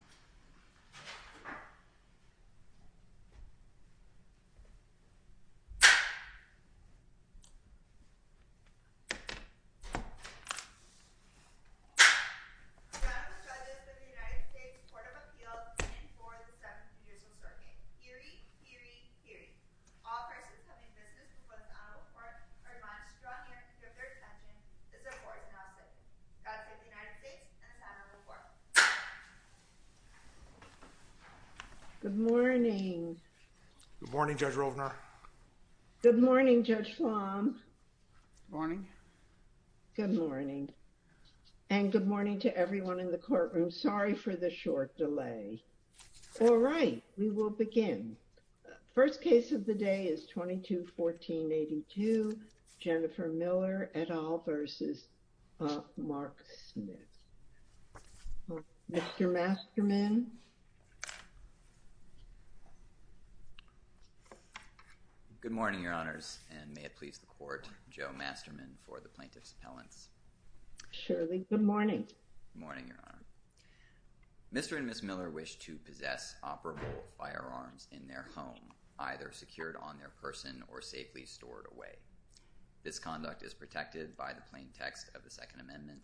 The President of the United States Court of Appeals in 4th and 7th years of serving. Hear ye! Hear ye! Hear ye! All persons having business with one's honorable court are admonished to draw near and give their attention. This court is now sitting. Judge of the United States and the time on the floor. Good morning. Good morning Judge Rovner. Good morning Judge Flom. Good morning. Good morning. And good morning to everyone in the courtroom. Sorry for the short delay. All right, we will begin. First case of the day is 22-14-82, Jennifer Miller et al. v. Marc Smith. Mr. Masterman. Good morning, your honors, and may it please the court, Joe Masterman for the plaintiff's appellants. Shirley, good morning. Good morning, your honor. Mr. and Ms. Miller wish to possess operable firearms in their home, either secured on their person or safely stored away. This conduct is protected by the plain text of the Second Amendment,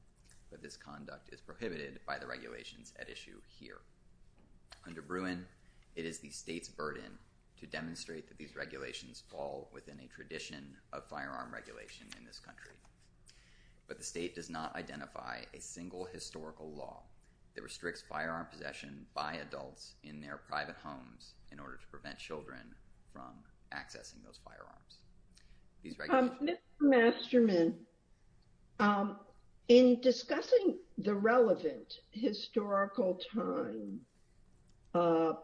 but this conduct is prohibited by the regulations at issue here. Under Bruin, it is the state's burden to demonstrate that these regulations fall within a tradition of firearm regulation in this country. But the state does not identify a single historical law that restricts firearm possession by adults in their private homes in order to prevent children from accessing those firearms. Mr. Masterman, in discussing the relevant historical time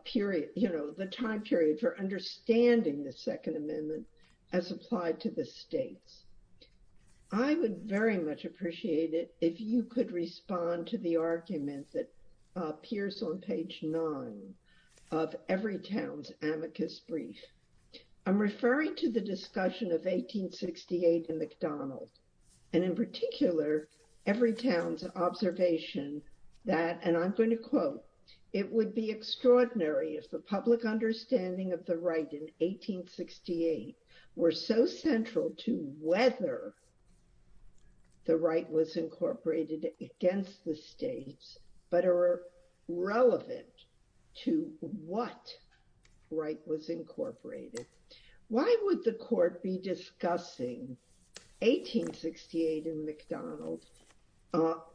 period, you know, the time period for understanding the Second Amendment as applied to the states, I would very much appreciate it if you could respond to the argument that appears on page nine of Everytown's amicus brief. I'm referring to the discussion of 1868 and McDonald, and in particular, Everytown's observation that, and I'm going to quote, it would be extraordinary if the public understanding of the right in 1868 were so central to whether the right was incorporated against the states, but are relevant to what right was incorporated. Why would the court be discussing 1868 and McDonald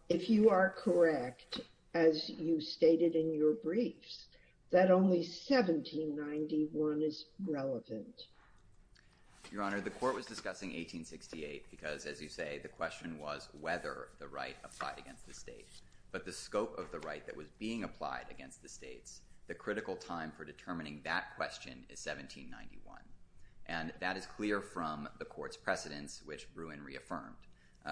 if you are correct, as you stated in your briefs, that only 1791 is relevant? Your Honor, the court was discussing 1868 because, as you say, the question was whether the right applied against the states. But the scope of the right that was being applied against the states, the critical time for determining that question is 1791. And that is clear from the court's precedence, which Bruin reaffirmed.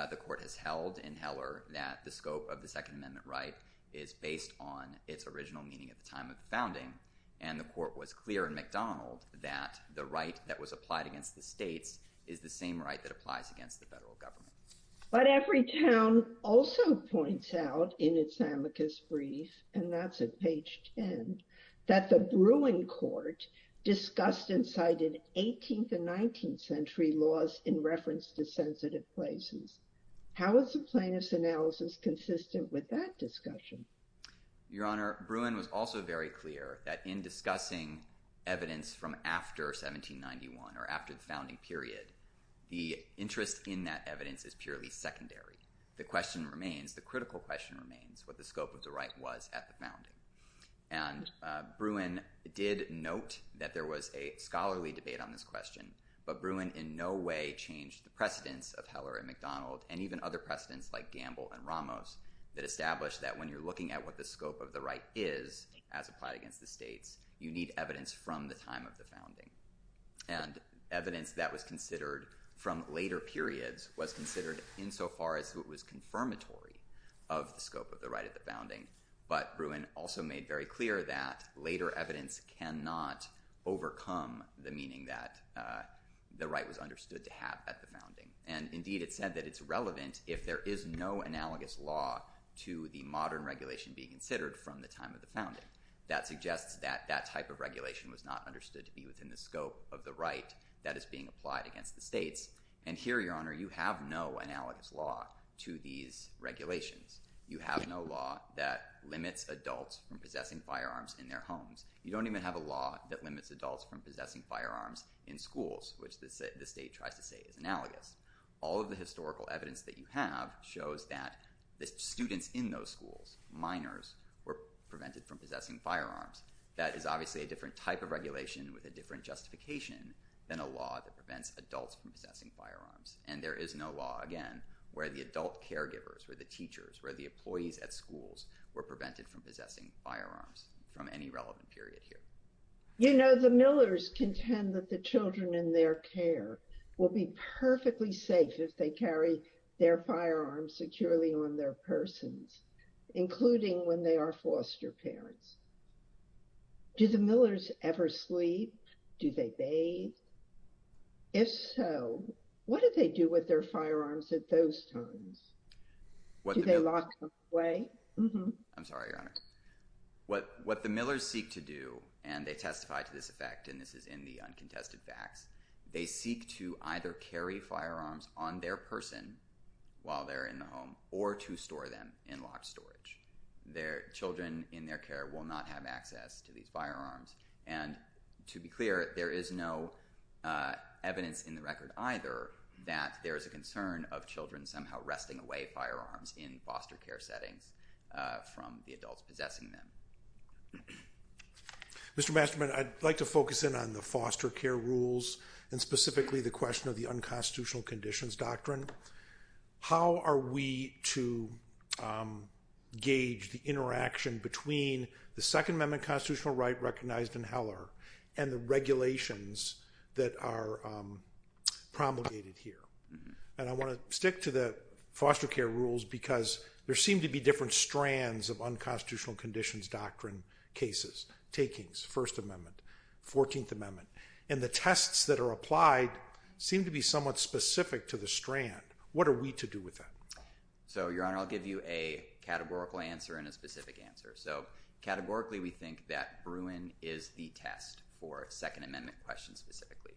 The court has held in Heller that the scope of the Second Amendment right is based on its original meaning at the time of the founding. And the court was clear in McDonald that the right that was applied against the states is the same right that applies against the federal government. But Everytown also points out in its amicus brief, and that's at page 10, that the Bruin court discussed and cited 18th and 19th century laws in reference to sensitive places. How is the plaintiff's analysis consistent with that discussion? Your Honor, Bruin was also very clear that in discussing evidence from after 1791 or after the founding period, the interest in that evidence is purely secondary. The question remains, the critical question remains, what the scope of the right was at the founding. And Bruin did note that there was a scholarly debate on this question. But Bruin in no way changed the precedence of Heller and McDonald and even other precedents like Gamble and Ramos that established that when you're looking at what the scope of the right is as applied against the states, you need evidence from the time of the founding. And evidence that was considered from later periods was considered insofar as it was confirmatory of the scope of the right at the founding. But Bruin also made very clear that later evidence cannot overcome the meaning that the right was understood to have at the founding. And indeed, it said that it's relevant if there is no analogous law to the modern regulation being considered from the time of the founding. That suggests that that type of regulation was not understood to be within the scope of the right that is being applied against the states. And here, Your Honor, you have no analogous law to these regulations. You have no law that limits adults from possessing firearms in their homes. You don't even have a law that limits adults from possessing firearms in schools, which the state tries to say is analogous. All of the historical evidence that you have shows that the students in those schools, minors, were prevented from possessing firearms. That is obviously a different type of regulation with a different justification than a law that prevents adults from possessing firearms. And there is no law, again, where the adult caregivers, where the teachers, where the employees at schools were prevented from possessing firearms from any relevant period here. You know, the Millers contend that the children in their care will be perfectly safe if they carry their firearms securely on their persons, including when they are foster parents. Do the Millers ever sleep? Do they bathe? If so, what do they do with their firearms at those times? Do they lock them away? I'm sorry, Your Honor. What the Millers seek to do, and they testify to this effect, and this is in the uncontested facts, they seek to either carry firearms on their person while they're in the home or to store them in locked storage. Children in their care will not have access to these firearms. And to be clear, there is no evidence in the record either that there is a concern of children somehow resting away firearms in foster care settings from the adults possessing them. Mr. Masterman, I'd like to focus in on the foster care rules and specifically the question of the unconstitutional conditions doctrine. How are we to gauge the interaction between the Second Amendment constitutional right recognized in Heller and the regulations that are promulgated here? And I want to stick to the foster care rules because there seem to be different strands of unconstitutional conditions doctrine cases, takings, First Amendment, 14th Amendment. And the tests that are applied seem to be somewhat specific to the strand. What are we to do with that? So, Your Honor, I'll give you a categorical answer and a specific answer. So, categorically, we think that Bruin is the test for Second Amendment questions specifically.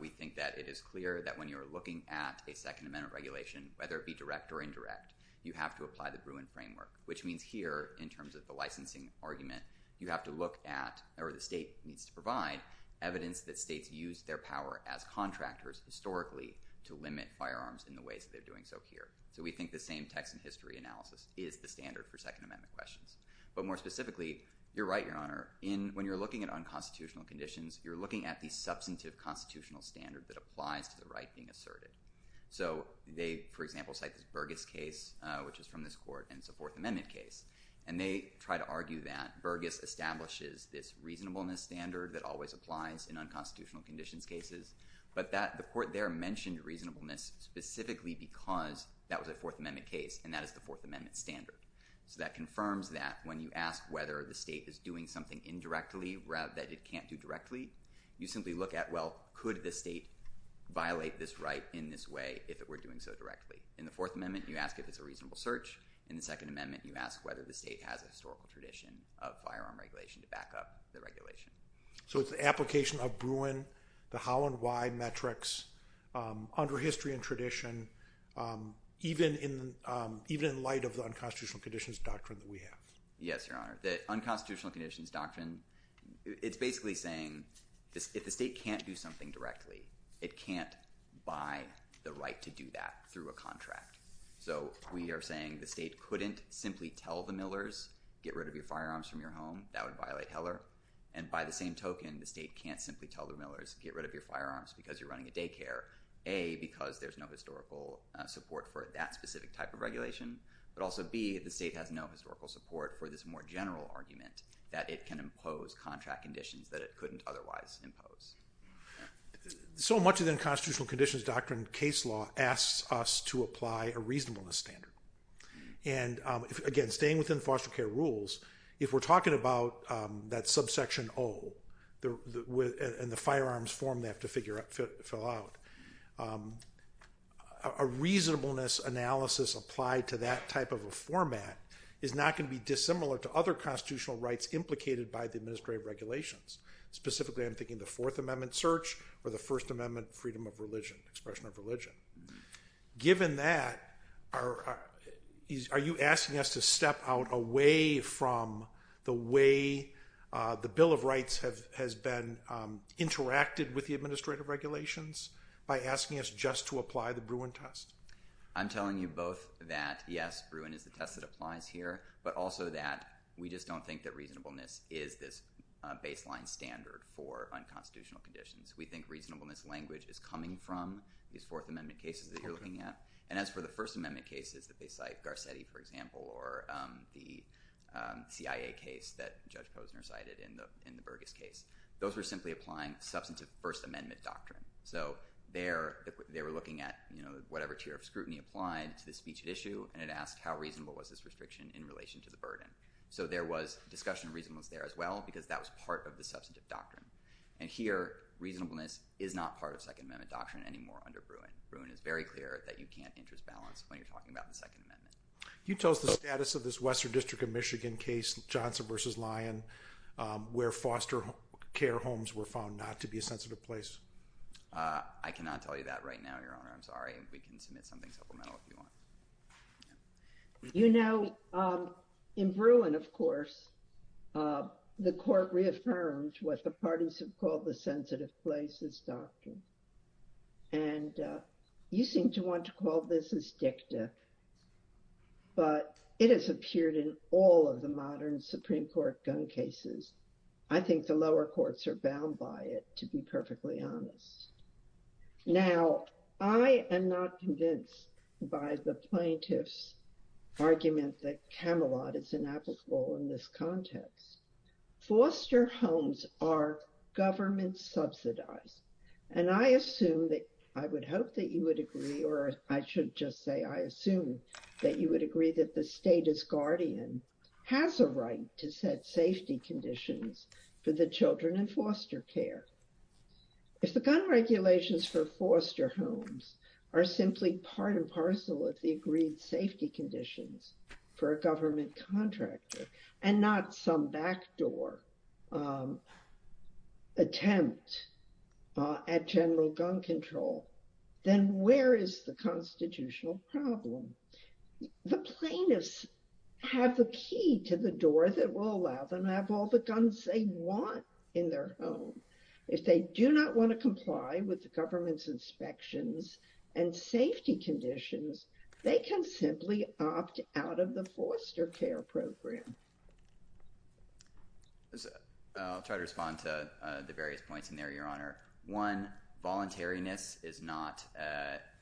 We think that it is clear that when you're looking at a Second Amendment regulation, whether it be direct or indirect, you have to apply the Bruin framework. Which means here, in terms of the licensing argument, you have to look at, or the state needs to provide, evidence that states use their power as contractors historically to limit firearms in the ways that they're doing so here. So we think the same text and history analysis is the standard for Second Amendment questions. But more specifically, you're right, Your Honor, when you're looking at unconstitutional conditions, you're looking at the substantive constitutional standard that applies to the right being asserted. So they, for example, cite this Burgess case, which is from this court, and it's a Fourth Amendment case. And they try to argue that Burgess establishes this reasonableness standard that always applies in unconstitutional conditions cases. But the court there mentioned reasonableness specifically because that was a Fourth Amendment case, and that is the Fourth Amendment standard. So that confirms that when you ask whether the state is doing something indirectly that it can't do directly, you simply look at, well, could the state violate this right in this way if it were doing so directly? In the Fourth Amendment, you ask if it's a reasonable search. In the Second Amendment, you ask whether the state has a historical tradition of firearm regulation to back up the regulation. So it's the application of Bruin, the how and why metrics, under history and tradition, even in light of the unconstitutional conditions doctrine that we have. Yes, Your Honor. The unconstitutional conditions doctrine, it's basically saying if the state can't do something directly, it can't buy the right to do that through a contract. So we are saying the state couldn't simply tell the Millers, get rid of your firearms from your home. That would violate Heller. And by the same token, the state can't simply tell the Millers, get rid of your firearms because you're running a daycare, A, because there's no historical support for that specific type of regulation. But also, B, the state has no historical support for this more general argument that it can impose contract conditions that it couldn't otherwise impose. So much of the unconstitutional conditions doctrine case law asks us to apply a reasonableness standard. And again, staying within foster care rules, if we're talking about that subsection O and the firearms form they have to fill out, a reasonableness analysis applied to that type of a format is not going to be dissimilar to other constitutional rights implicated by the administrative regulations. Specifically, I'm thinking the Fourth Amendment search or the First Amendment freedom of religion, expression of religion. Given that, are you asking us to step out away from the way the Bill of Rights has been interacted with the administrative regulations by asking us just to apply the Bruin test? I'm telling you both that, yes, Bruin is the test that applies here, but also that we just don't think that reasonableness is this baseline standard for unconstitutional conditions. We think reasonableness language is coming from these Fourth Amendment cases that you're looking at. And as for the First Amendment cases that they cite, Garcetti, for example, or the CIA case that Judge Posner cited in the Burgess case, those were simply applying substantive First Amendment doctrine. They were looking at whatever tier of scrutiny applied to the speech at issue and it asked how reasonable was this restriction in relation to the burden. So there was discussion of reasonableness there as well because that was part of the substantive doctrine. And here, reasonableness is not part of Second Amendment doctrine anymore under Bruin. Bruin is very clear that you can't interest balance when you're talking about the Second Amendment. Can you tell us the status of this Western District of Michigan case, Johnson v. Lyon, where foster care homes were found not to be a sensitive place? I cannot tell you that right now, Your Honor. I'm sorry. We can submit something supplemental if you want. You know, in Bruin, of course, the court reaffirmed what the parties have called the sensitive places doctrine. And you seem to want to call this as dicta. But it has appeared in all of the modern Supreme Court gun cases. I think the lower courts are bound by it, to be perfectly honest. Now, I am not convinced by the plaintiff's argument that Camelot is inapplicable in this context. Foster homes are government subsidized. And I assume that I would hope that you would agree or I should just say I assume that you would agree that the state as guardian has a right to set safety conditions for the children in foster care. If the gun regulations for foster homes are simply part and parcel of the agreed safety conditions for a government contractor and not some backdoor attempt at general gun control, then where is the constitutional problem? The plaintiffs have the key to the door that will allow them to have all the guns they want in their home. If they do not want to comply with the government's inspections and safety conditions, they can simply opt out of the foster care program. I'll try to respond to the various points in there, Your Honor. One, voluntariness is not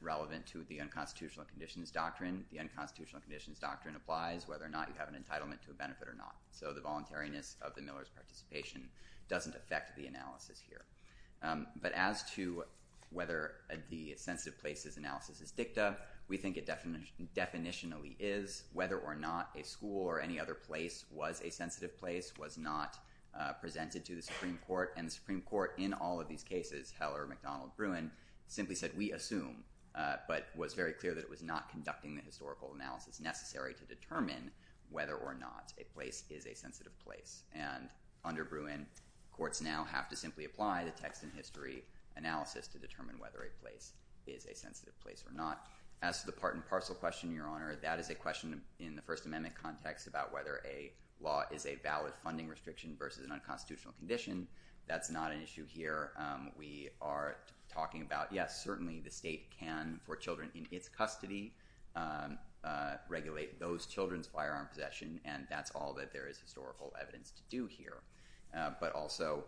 relevant to the unconstitutional conditions doctrine. The unconstitutional conditions doctrine applies whether or not you have an entitlement to a benefit or not. So the voluntariness of the Miller's participation doesn't affect the analysis here. But as to whether the sensitive places analysis is dicta, we think it definitionally is whether or not a school or any other place was a sensitive place, was not presented to the Supreme Court. And the Supreme Court in all of these cases, Heller, McDonald, Bruin, simply said we assume but was very clear that it was not conducting the historical analysis necessary to determine whether or not a place is a sensitive place. And under Bruin, courts now have to simply apply the text and history analysis to determine whether a place is a sensitive place or not. As to the part and parcel question, Your Honor, that is a question in the First Amendment context about whether a law is a valid funding restriction versus an unconstitutional condition. That's not an issue here. We are talking about, yes, certainly the state can, for children in its custody, regulate those children's firearm possession. And that's all that there is historical evidence to do here. But also,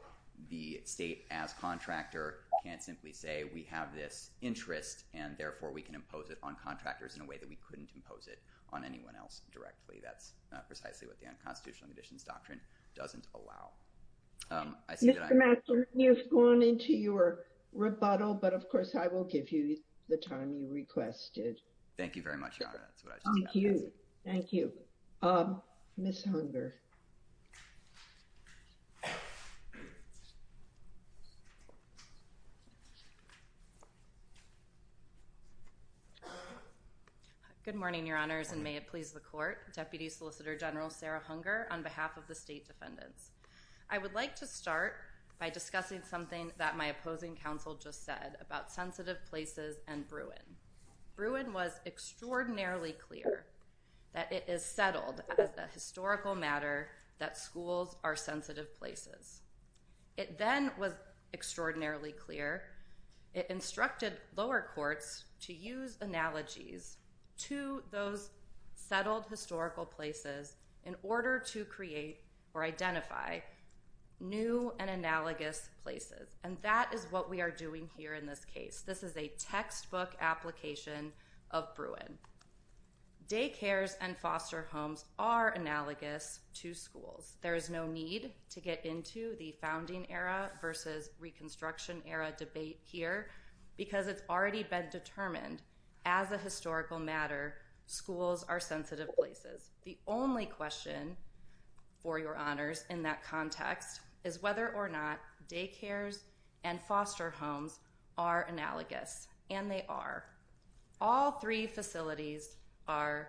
the state as contractor can't simply say we have this interest and therefore we can impose it on contractors in a way that we couldn't impose it on anyone else directly. That's precisely what the unconstitutional conditions doctrine doesn't allow. Mr. Matson, you've gone into your rebuttal, but of course I will give you the time you requested. Thank you very much, Your Honor. Thank you. Ms. Hunger. Good morning, Your Honors, and may it please the court. Deputy Solicitor General Sarah Hunger on behalf of the state defendants. I would like to start by discussing something that my opposing counsel just said about sensitive places and Bruin. Bruin was extraordinarily clear that it is settled as a historical matter that schools are sensitive places. It then was extraordinarily clear it instructed lower courts to use analogies to those settled historical places in order to create or identify new and analogous places. And that is what we are doing here in this case. This is a textbook application of Bruin. Daycares and foster homes are analogous to schools. There is no need to get into the founding era versus reconstruction era debate here because it's already been determined as a historical matter, schools are sensitive places. The only question for Your Honors in that context is whether or not daycares and foster homes are analogous, and they are. All three facilities are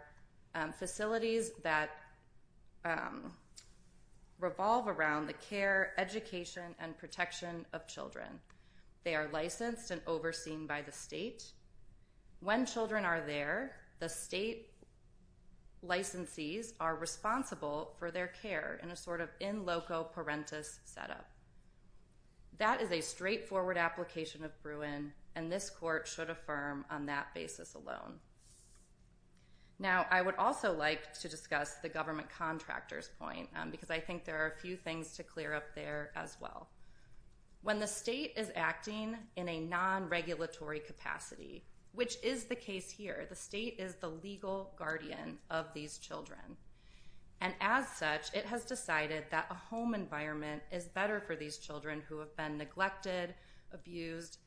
facilities that revolve around the care, education, and protection of children. They are licensed and overseen by the state. When children are there, the state licensees are responsible for their care in a sort of in loco parentis setup. That is a straightforward application of Bruin, and this court should affirm on that basis alone. Now, I would also like to discuss the government contractor's point because I think there are a few things to clear up there as well. When the state is acting in a non-regulatory capacity, which is the case here, the state is the legal guardian of these children. As such, it has decided that a home environment is better for these children who have been neglected, abused,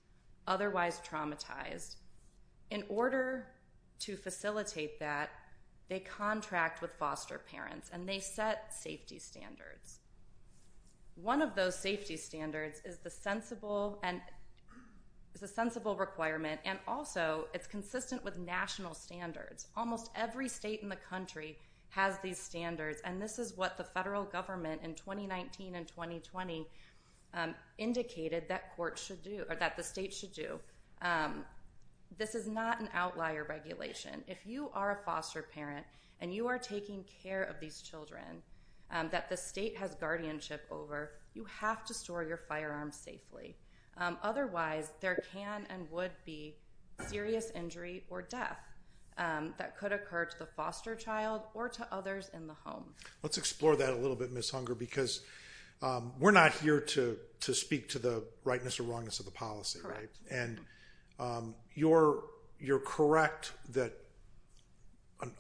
otherwise traumatized. In order to facilitate that, they contract with foster parents, and they set safety standards. One of those safety standards is the sensible requirement, and also it's consistent with national standards. Almost every state in the country has these standards, and this is what the federal government in 2019 and 2020 indicated that the state should do. This is not an outlier regulation. If you are a foster parent and you are taking care of these children that the state has guardianship over, you have to store your firearms safely. Otherwise, there can and would be serious injury or death that could occur to the foster child or to others in the home. Let's explore that a little bit, Ms. Hunger, because we're not here to speak to the rightness or wrongness of the policy, right? Correct. And you're correct that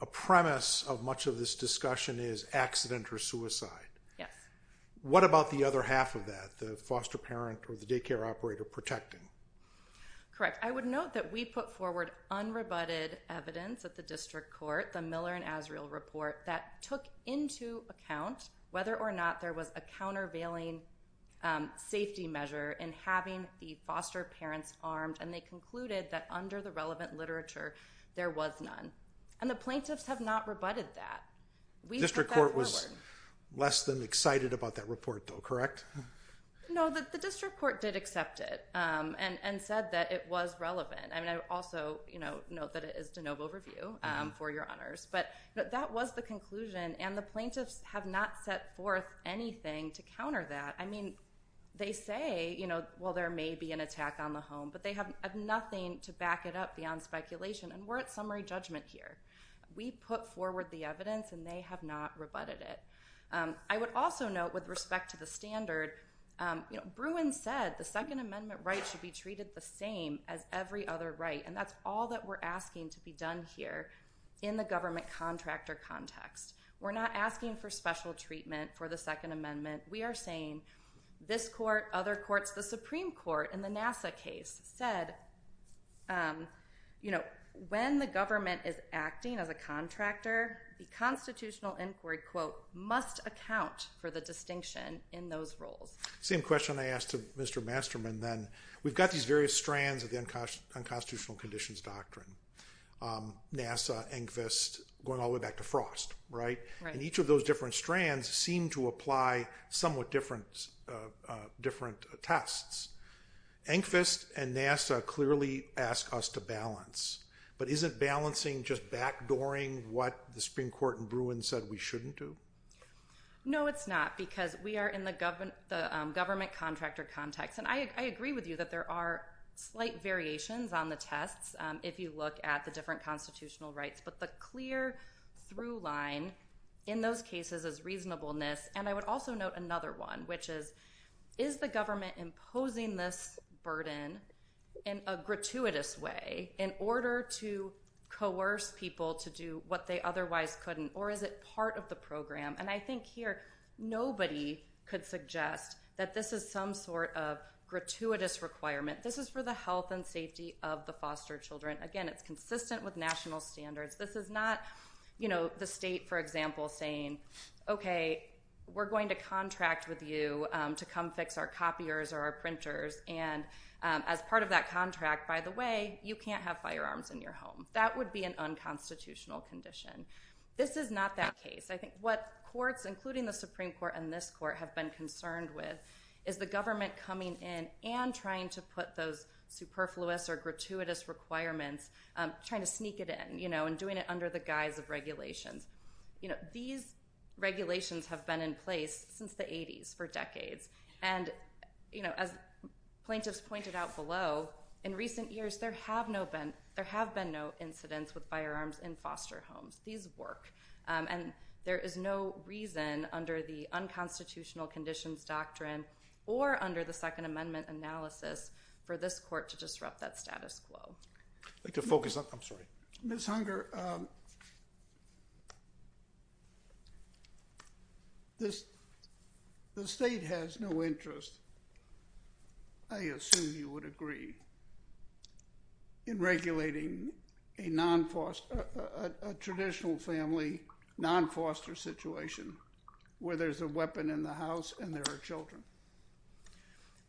a premise of much of this discussion is accident or suicide. Yes. What about the other half of that, the foster parent or the daycare operator protecting? Correct. I would note that we put forward unrebutted evidence at the district court, the Miller and Azrael report, that took into account whether or not there was a countervailing safety measure in having the foster parents armed, and they concluded that under the relevant literature, there was none. And the plaintiffs have not rebutted that. The district court was less than excited about that report, though, correct? No, the district court did accept it and said that it was relevant. And I also note that it is de novo review, for your honors. But that was the conclusion, and the plaintiffs have not set forth anything to counter that. I mean, they say, well, there may be an attack on the home, but they have nothing to back it up beyond speculation. And we're at summary judgment here. We put forward the evidence, and they have not rebutted it. I would also note, with respect to the standard, Bruin said the Second Amendment right should be treated the same as every other right, and that's all that we're asking to be done here in the government contractor context. We're not asking for special treatment for the Second Amendment. We are saying this court, other courts, the Supreme Court in the NASA case said, you know, when the government is acting as a contractor, the constitutional inquiry, quote, must account for the distinction in those roles. Same question I asked to Mr. Masterman, then. We've got these various strands of the unconstitutional conditions doctrine, NASA, ENGVST, going all the way back to Frost, right? And each of those different strands seem to apply somewhat different tests. ENGVST and NASA clearly ask us to balance, but isn't balancing just backdooring what the Supreme Court in Bruin said we shouldn't do? No, it's not, because we are in the government contractor context, and I agree with you that there are slight variations on the tests if you look at the different constitutional rights, but the clear through line in those cases is reasonableness, and I would also note another one, which is, is the government imposing this burden in a gratuitous way in order to coerce people to do what they otherwise couldn't, or is it part of the program? And I think here nobody could suggest that this is some sort of gratuitous requirement. This is for the health and safety of the foster children. Again, it's consistent with national standards. This is not, you know, the state, for example, saying, okay, we're going to contract with you to come fix our copiers or our printers, and as part of that contract, by the way, you can't have firearms in your home. That would be an unconstitutional condition. This is not that case. I think what courts, including the Supreme Court and this court, have been concerned with is the government coming in and trying to put those superfluous or gratuitous requirements, trying to sneak it in, you know, and doing it under the guise of regulations. You know, these regulations have been in place since the 80s for decades, and, you know, as plaintiffs pointed out below, in recent years there have been no incidents with firearms in foster homes. These work. And there is no reason under the unconstitutional conditions doctrine or under the Second Amendment analysis for this court to disrupt that status quo. I'd like to focus on – I'm sorry. Ms. Hunger, the state has no interest, I assume you would agree, in regulating a traditional family non-foster situation where there's a weapon in the house and there are children.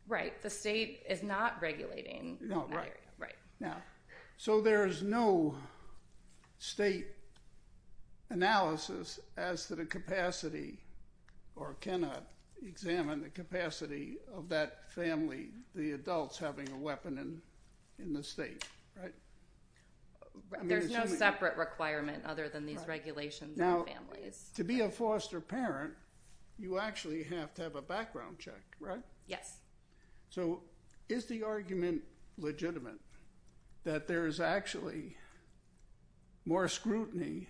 Right. The state is not regulating that area. Right. So there is no state analysis as to the capacity or cannot examine the capacity of that family, the adults having a weapon in the state, right? There's no separate requirement other than these regulations on families. Now, to be a foster parent, you actually have to have a background check, right? Yes. So is the argument legitimate that there is actually more scrutiny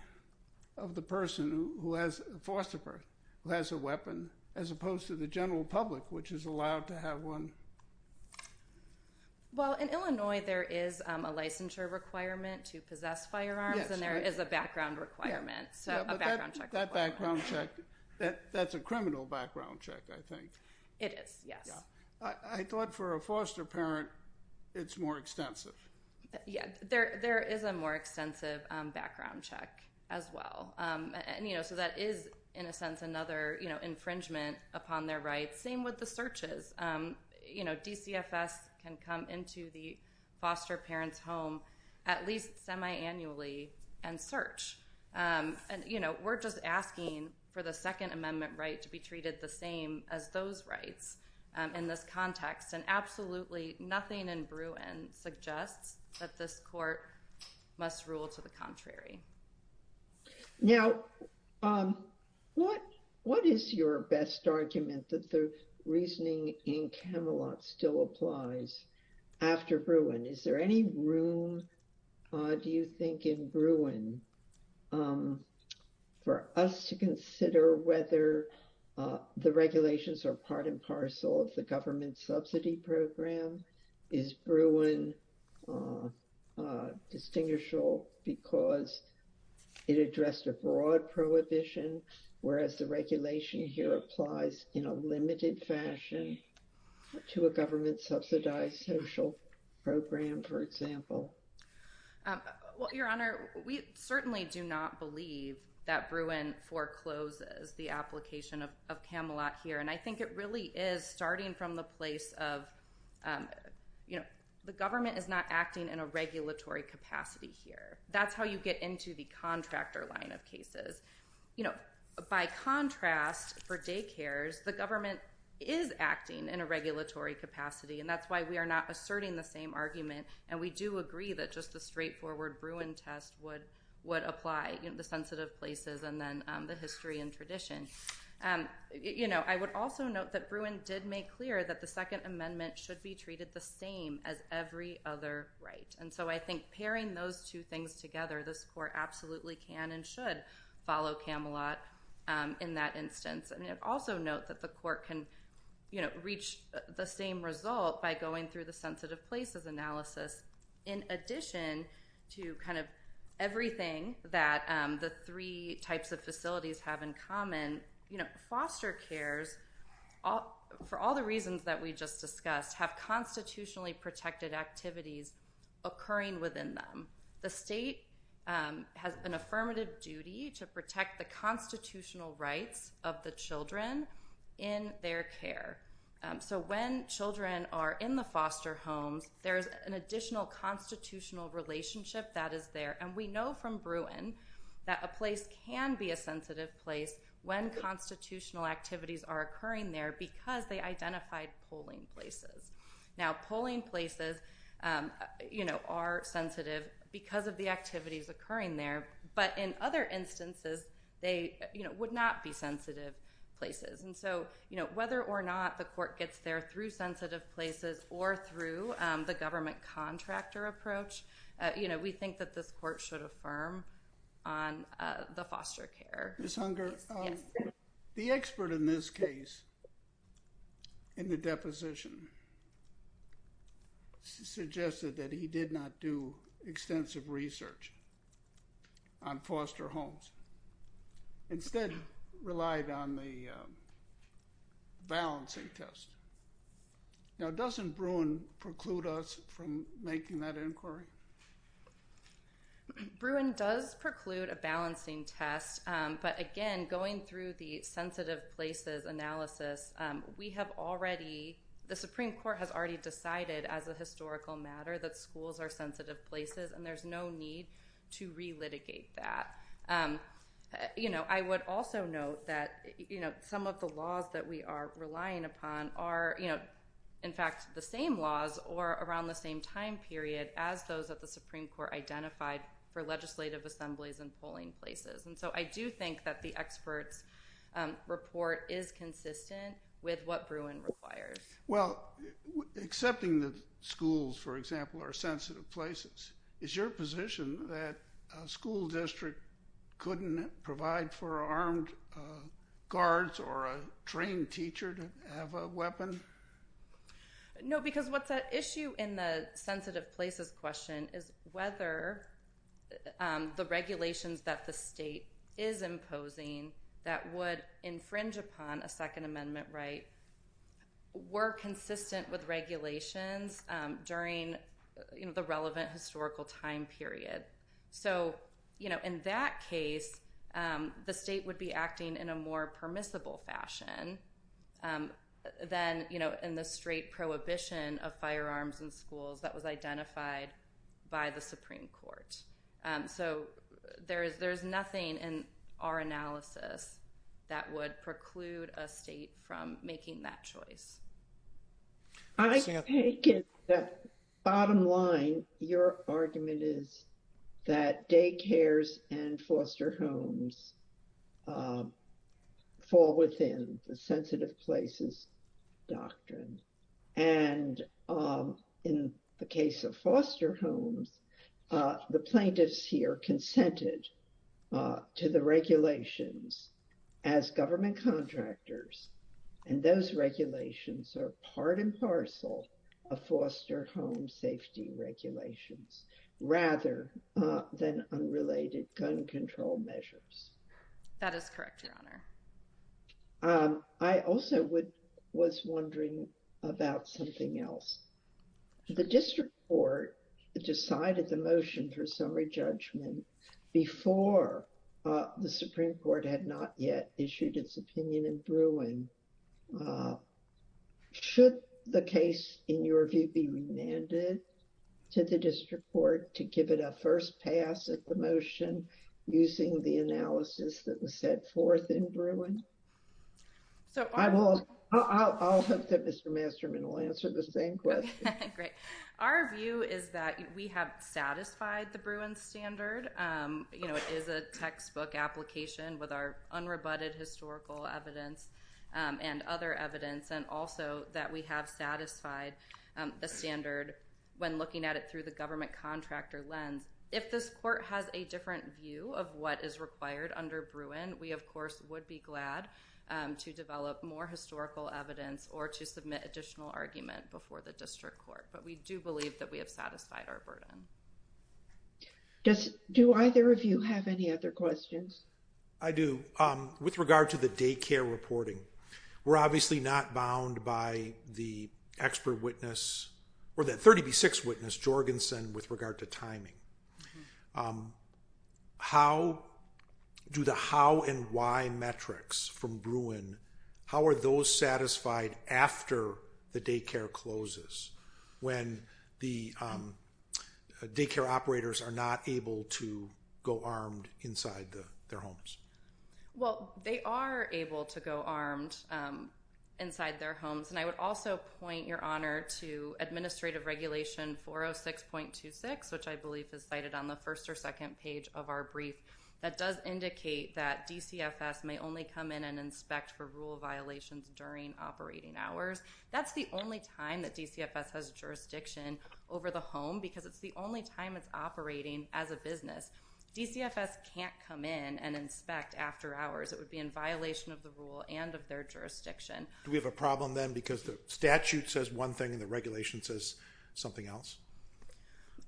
of the person who has – Well, in Illinois there is a licensure requirement to possess firearms. Yes, right. And there is a background requirement, so a background check. That background check, that's a criminal background check, I think. It is, yes. I thought for a foster parent it's more extensive. Yeah, there is a more extensive background check as well. So that is, in a sense, another infringement upon their rights. Same with the searches. You know, DCFS can come into the foster parent's home at least semi-annually and search. And, you know, we're just asking for the Second Amendment right to be treated the same as those rights in this context. And absolutely nothing in Bruin suggests that this court must rule to the contrary. Now, what is your best argument that the reasoning in Camelot still applies after Bruin? Is there any room, do you think, in Bruin for us to consider whether the regulations are part and parcel of the government subsidy program? Is Bruin distinguishable because it addressed a broad prohibition, whereas the regulation here applies in a limited fashion to a government-subsidized social program, for example? Well, Your Honor, we certainly do not believe that Bruin forecloses the application of Camelot here. And I think it really is starting from the place of, you know, the government is not acting in a regulatory capacity here. That's how you get into the contractor line of cases. You know, by contrast, for daycares, the government is acting in a regulatory capacity. And that's why we are not asserting the same argument. And we do agree that just a straightforward Bruin test would apply in the sensitive places and then the history and tradition. You know, I would also note that Bruin did make clear that the Second Amendment should be treated the same as every other right. And so I think pairing those two things together, this Court absolutely can and should follow Camelot in that instance. And also note that the Court can, you know, reach the same result by going through the sensitive places analysis in addition to kind of everything that the three types of facilities have in common. You know, foster cares, for all the reasons that we just discussed, have constitutionally protected activities occurring within them. The state has an affirmative duty to protect the constitutional rights of the children in their care. So when children are in the foster homes, there's an additional constitutional relationship that is there. And we know from Bruin that a place can be a sensitive place when constitutional activities are occurring there because they identified polling places. Now, polling places, you know, are sensitive because of the activities occurring there. But in other instances, they, you know, would not be sensitive places. And so, you know, whether or not the Court gets there through sensitive places or through the government contractor approach, you know, we think that this Court should affirm on the foster care. Ms. Hunger, the expert in this case in the deposition suggested that he did not do extensive research on foster homes. Instead, relied on the balancing test. Now, doesn't Bruin preclude us from making that inquiry? Bruin does preclude a balancing test. But again, going through the sensitive places analysis, we have already, the Supreme Court has already decided as a historical matter that schools are sensitive places, and there's no need to relitigate that. You know, I would also note that, you know, some of the laws that we are relying upon are, you know, in fact, the same laws or around the same time period as those that the Supreme Court identified for legislative assemblies and polling places. And so, I do think that the expert's report is consistent with what Bruin requires. Well, accepting that schools, for example, are sensitive places, is your position that a school district couldn't provide for armed guards or a trained teacher to have a weapon? No, because what's at issue in the sensitive places question is whether the regulations that the state is imposing that would infringe upon a Second Amendment right were consistent with regulations during, you know, the relevant historical time period. So, you know, in that case, the state would be acting in a more permissible fashion than, you know, in the straight prohibition of firearms in schools that was identified by the Supreme Court. So, there's nothing in our analysis that would preclude a state from making that choice. I take it that bottom line, your argument is that daycares and foster homes fall within the sensitive places doctrine. And in the case of foster homes, the plaintiffs here consented to the regulations as government contractors, and those regulations are part and parcel of foster home safety regulations rather than unrelated gun control measures. That is correct, Your Honor. I also was wondering about something else. The district court decided the motion for summary judgment before the Supreme Court had not yet issued its opinion in Bruin. Should the case, in your view, be remanded to the district court to give it a first pass at the motion using the analysis that was set forth in Bruin? I'll hope that Mr. Masterman will answer the same question. Great. Our view is that we have satisfied the Bruin standard. You know, it is a textbook application with our unrebutted historical evidence and other evidence, and also that we have satisfied the standard when looking at it through the government contractor lens. If this court has a different view of what is required under Bruin, we of course would be glad to develop more historical evidence or to submit additional argument before the district court. But we do believe that we have satisfied our burden. Do either of you have any other questions? I do. With regard to the daycare reporting, we're obviously not bound by the expert witness or the 30B6 witness, Jorgensen, with regard to timing. How do the how and why metrics from Bruin, how are those satisfied after the daycare closes when the daycare operators are not able to go armed inside their homes? Well, they are able to go armed inside their homes, and I would also point your honor to Administrative Regulation 406.26, which I believe is cited on the first or second page of our brief, that does indicate that DCFS may only come in and inspect for rule violations during operating hours. That's the only time that DCFS has jurisdiction over the home because it's the only time it's operating as a business. DCFS can't come in and inspect after hours. It would be in violation of the rule and of their jurisdiction. Do we have a problem then because the statute says one thing and the regulation says something else?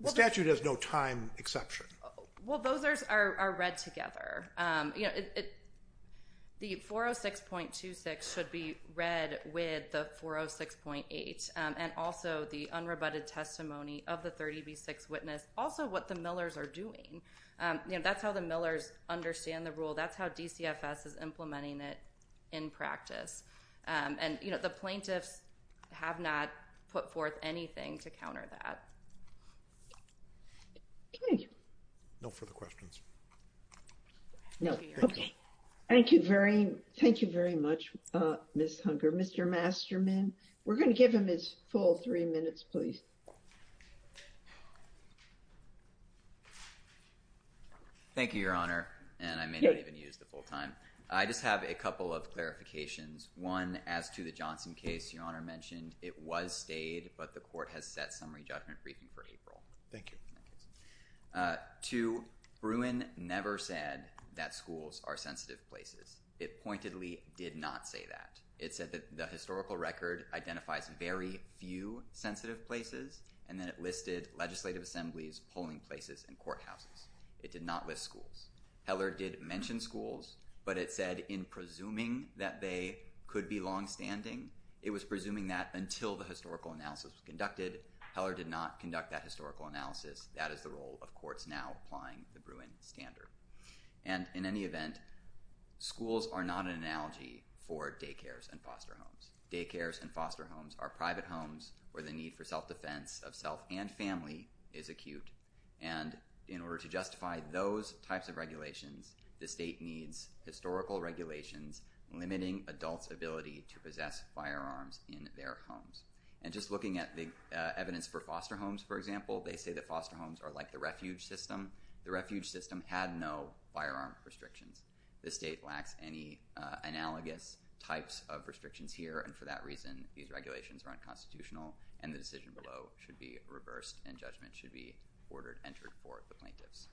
The statute has no time exception. Well, those are read together. The 406.26 should be read with the 406.8 and also the unrebutted testimony of the 30B6 witness, also what the Millers are doing. That's how the Millers understand the rule. That's how DCFS is implementing it in practice. And the plaintiffs have not put forth anything to counter that. No further questions. Thank you very much, Ms. Hunger. Mr. Masterman, we're going to give him his full three minutes, please. Thank you, Your Honor, and I may not even use the full time. I just have a couple of clarifications. One, as to the Johnson case, Your Honor mentioned it was stayed, but the court has set summary judgment briefing for April. Thank you. Two, Bruin never said that schools are sensitive places. It pointedly did not say that. It said that the historical record identifies very few sensitive places, and then it listed legislative assemblies, polling places, and courthouses. It did not list schools. Heller did mention schools, but it said in presuming that they could be longstanding, it was presuming that until the historical analysis was conducted. Heller did not conduct that historical analysis. That is the role of courts now applying the Bruin standard. And in any event, schools are not an analogy for daycares and foster homes. Daycares and foster homes are private homes where the need for self-defense of self and family is acute. And in order to justify those types of regulations, the state needs historical regulations limiting adults' ability to possess firearms in their homes. And just looking at the evidence for foster homes, for example, they say that foster homes are like the refuge system. The refuge system had no firearm restrictions. The state lacks any analogous types of restrictions here, and for that reason, these regulations are unconstitutional, and the decision below should be reversed, and judgment should be ordered, entered for the plaintiffs.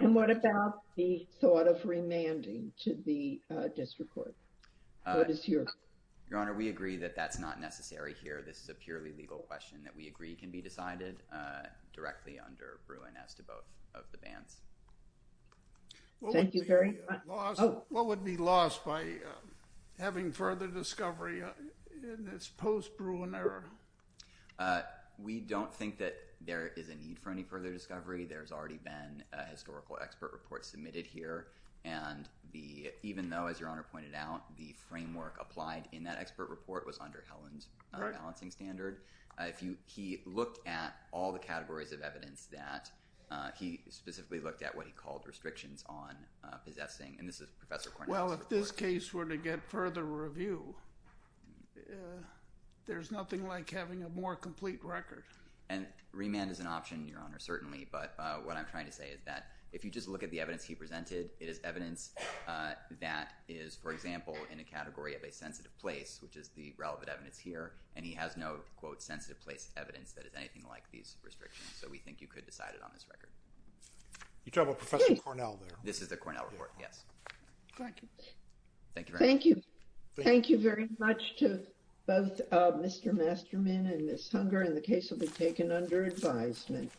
And what about the thought of remanding to the district court? Your Honor, we agree that that's not necessary here. This is a purely legal question that we agree can be decided directly under Bruin as to both of the bans. Thank you very much. What would be lost by having further discovery in this post-Bruin era? We don't think that there is a need for any further discovery. There's already been a historical expert report submitted here, and even though, as you know, the framework applied in that expert report was under Helen's balancing standard, he looked at all the categories of evidence that he specifically looked at what he called restrictions on possessing, and this is Professor Cornelius' report. Well, if this case were to get further review, there's nothing like having a more complete record. And remand is an option, Your Honor, certainly, but what I'm trying to say is that if you just look at the evidence he presented, it is evidence that is, for example, in a category of a sensitive place, which is the relevant evidence here, and he has no, quote, sensitive place evidence that is anything like these restrictions. So we think you could decide it on this record. You're talking about Professor Cornell there. This is the Cornell report, yes. Thank you. Thank you very much. Thank you. Thank you very much to both Mr. Masterman and Ms. Hunger, and the case will be taken under advisement.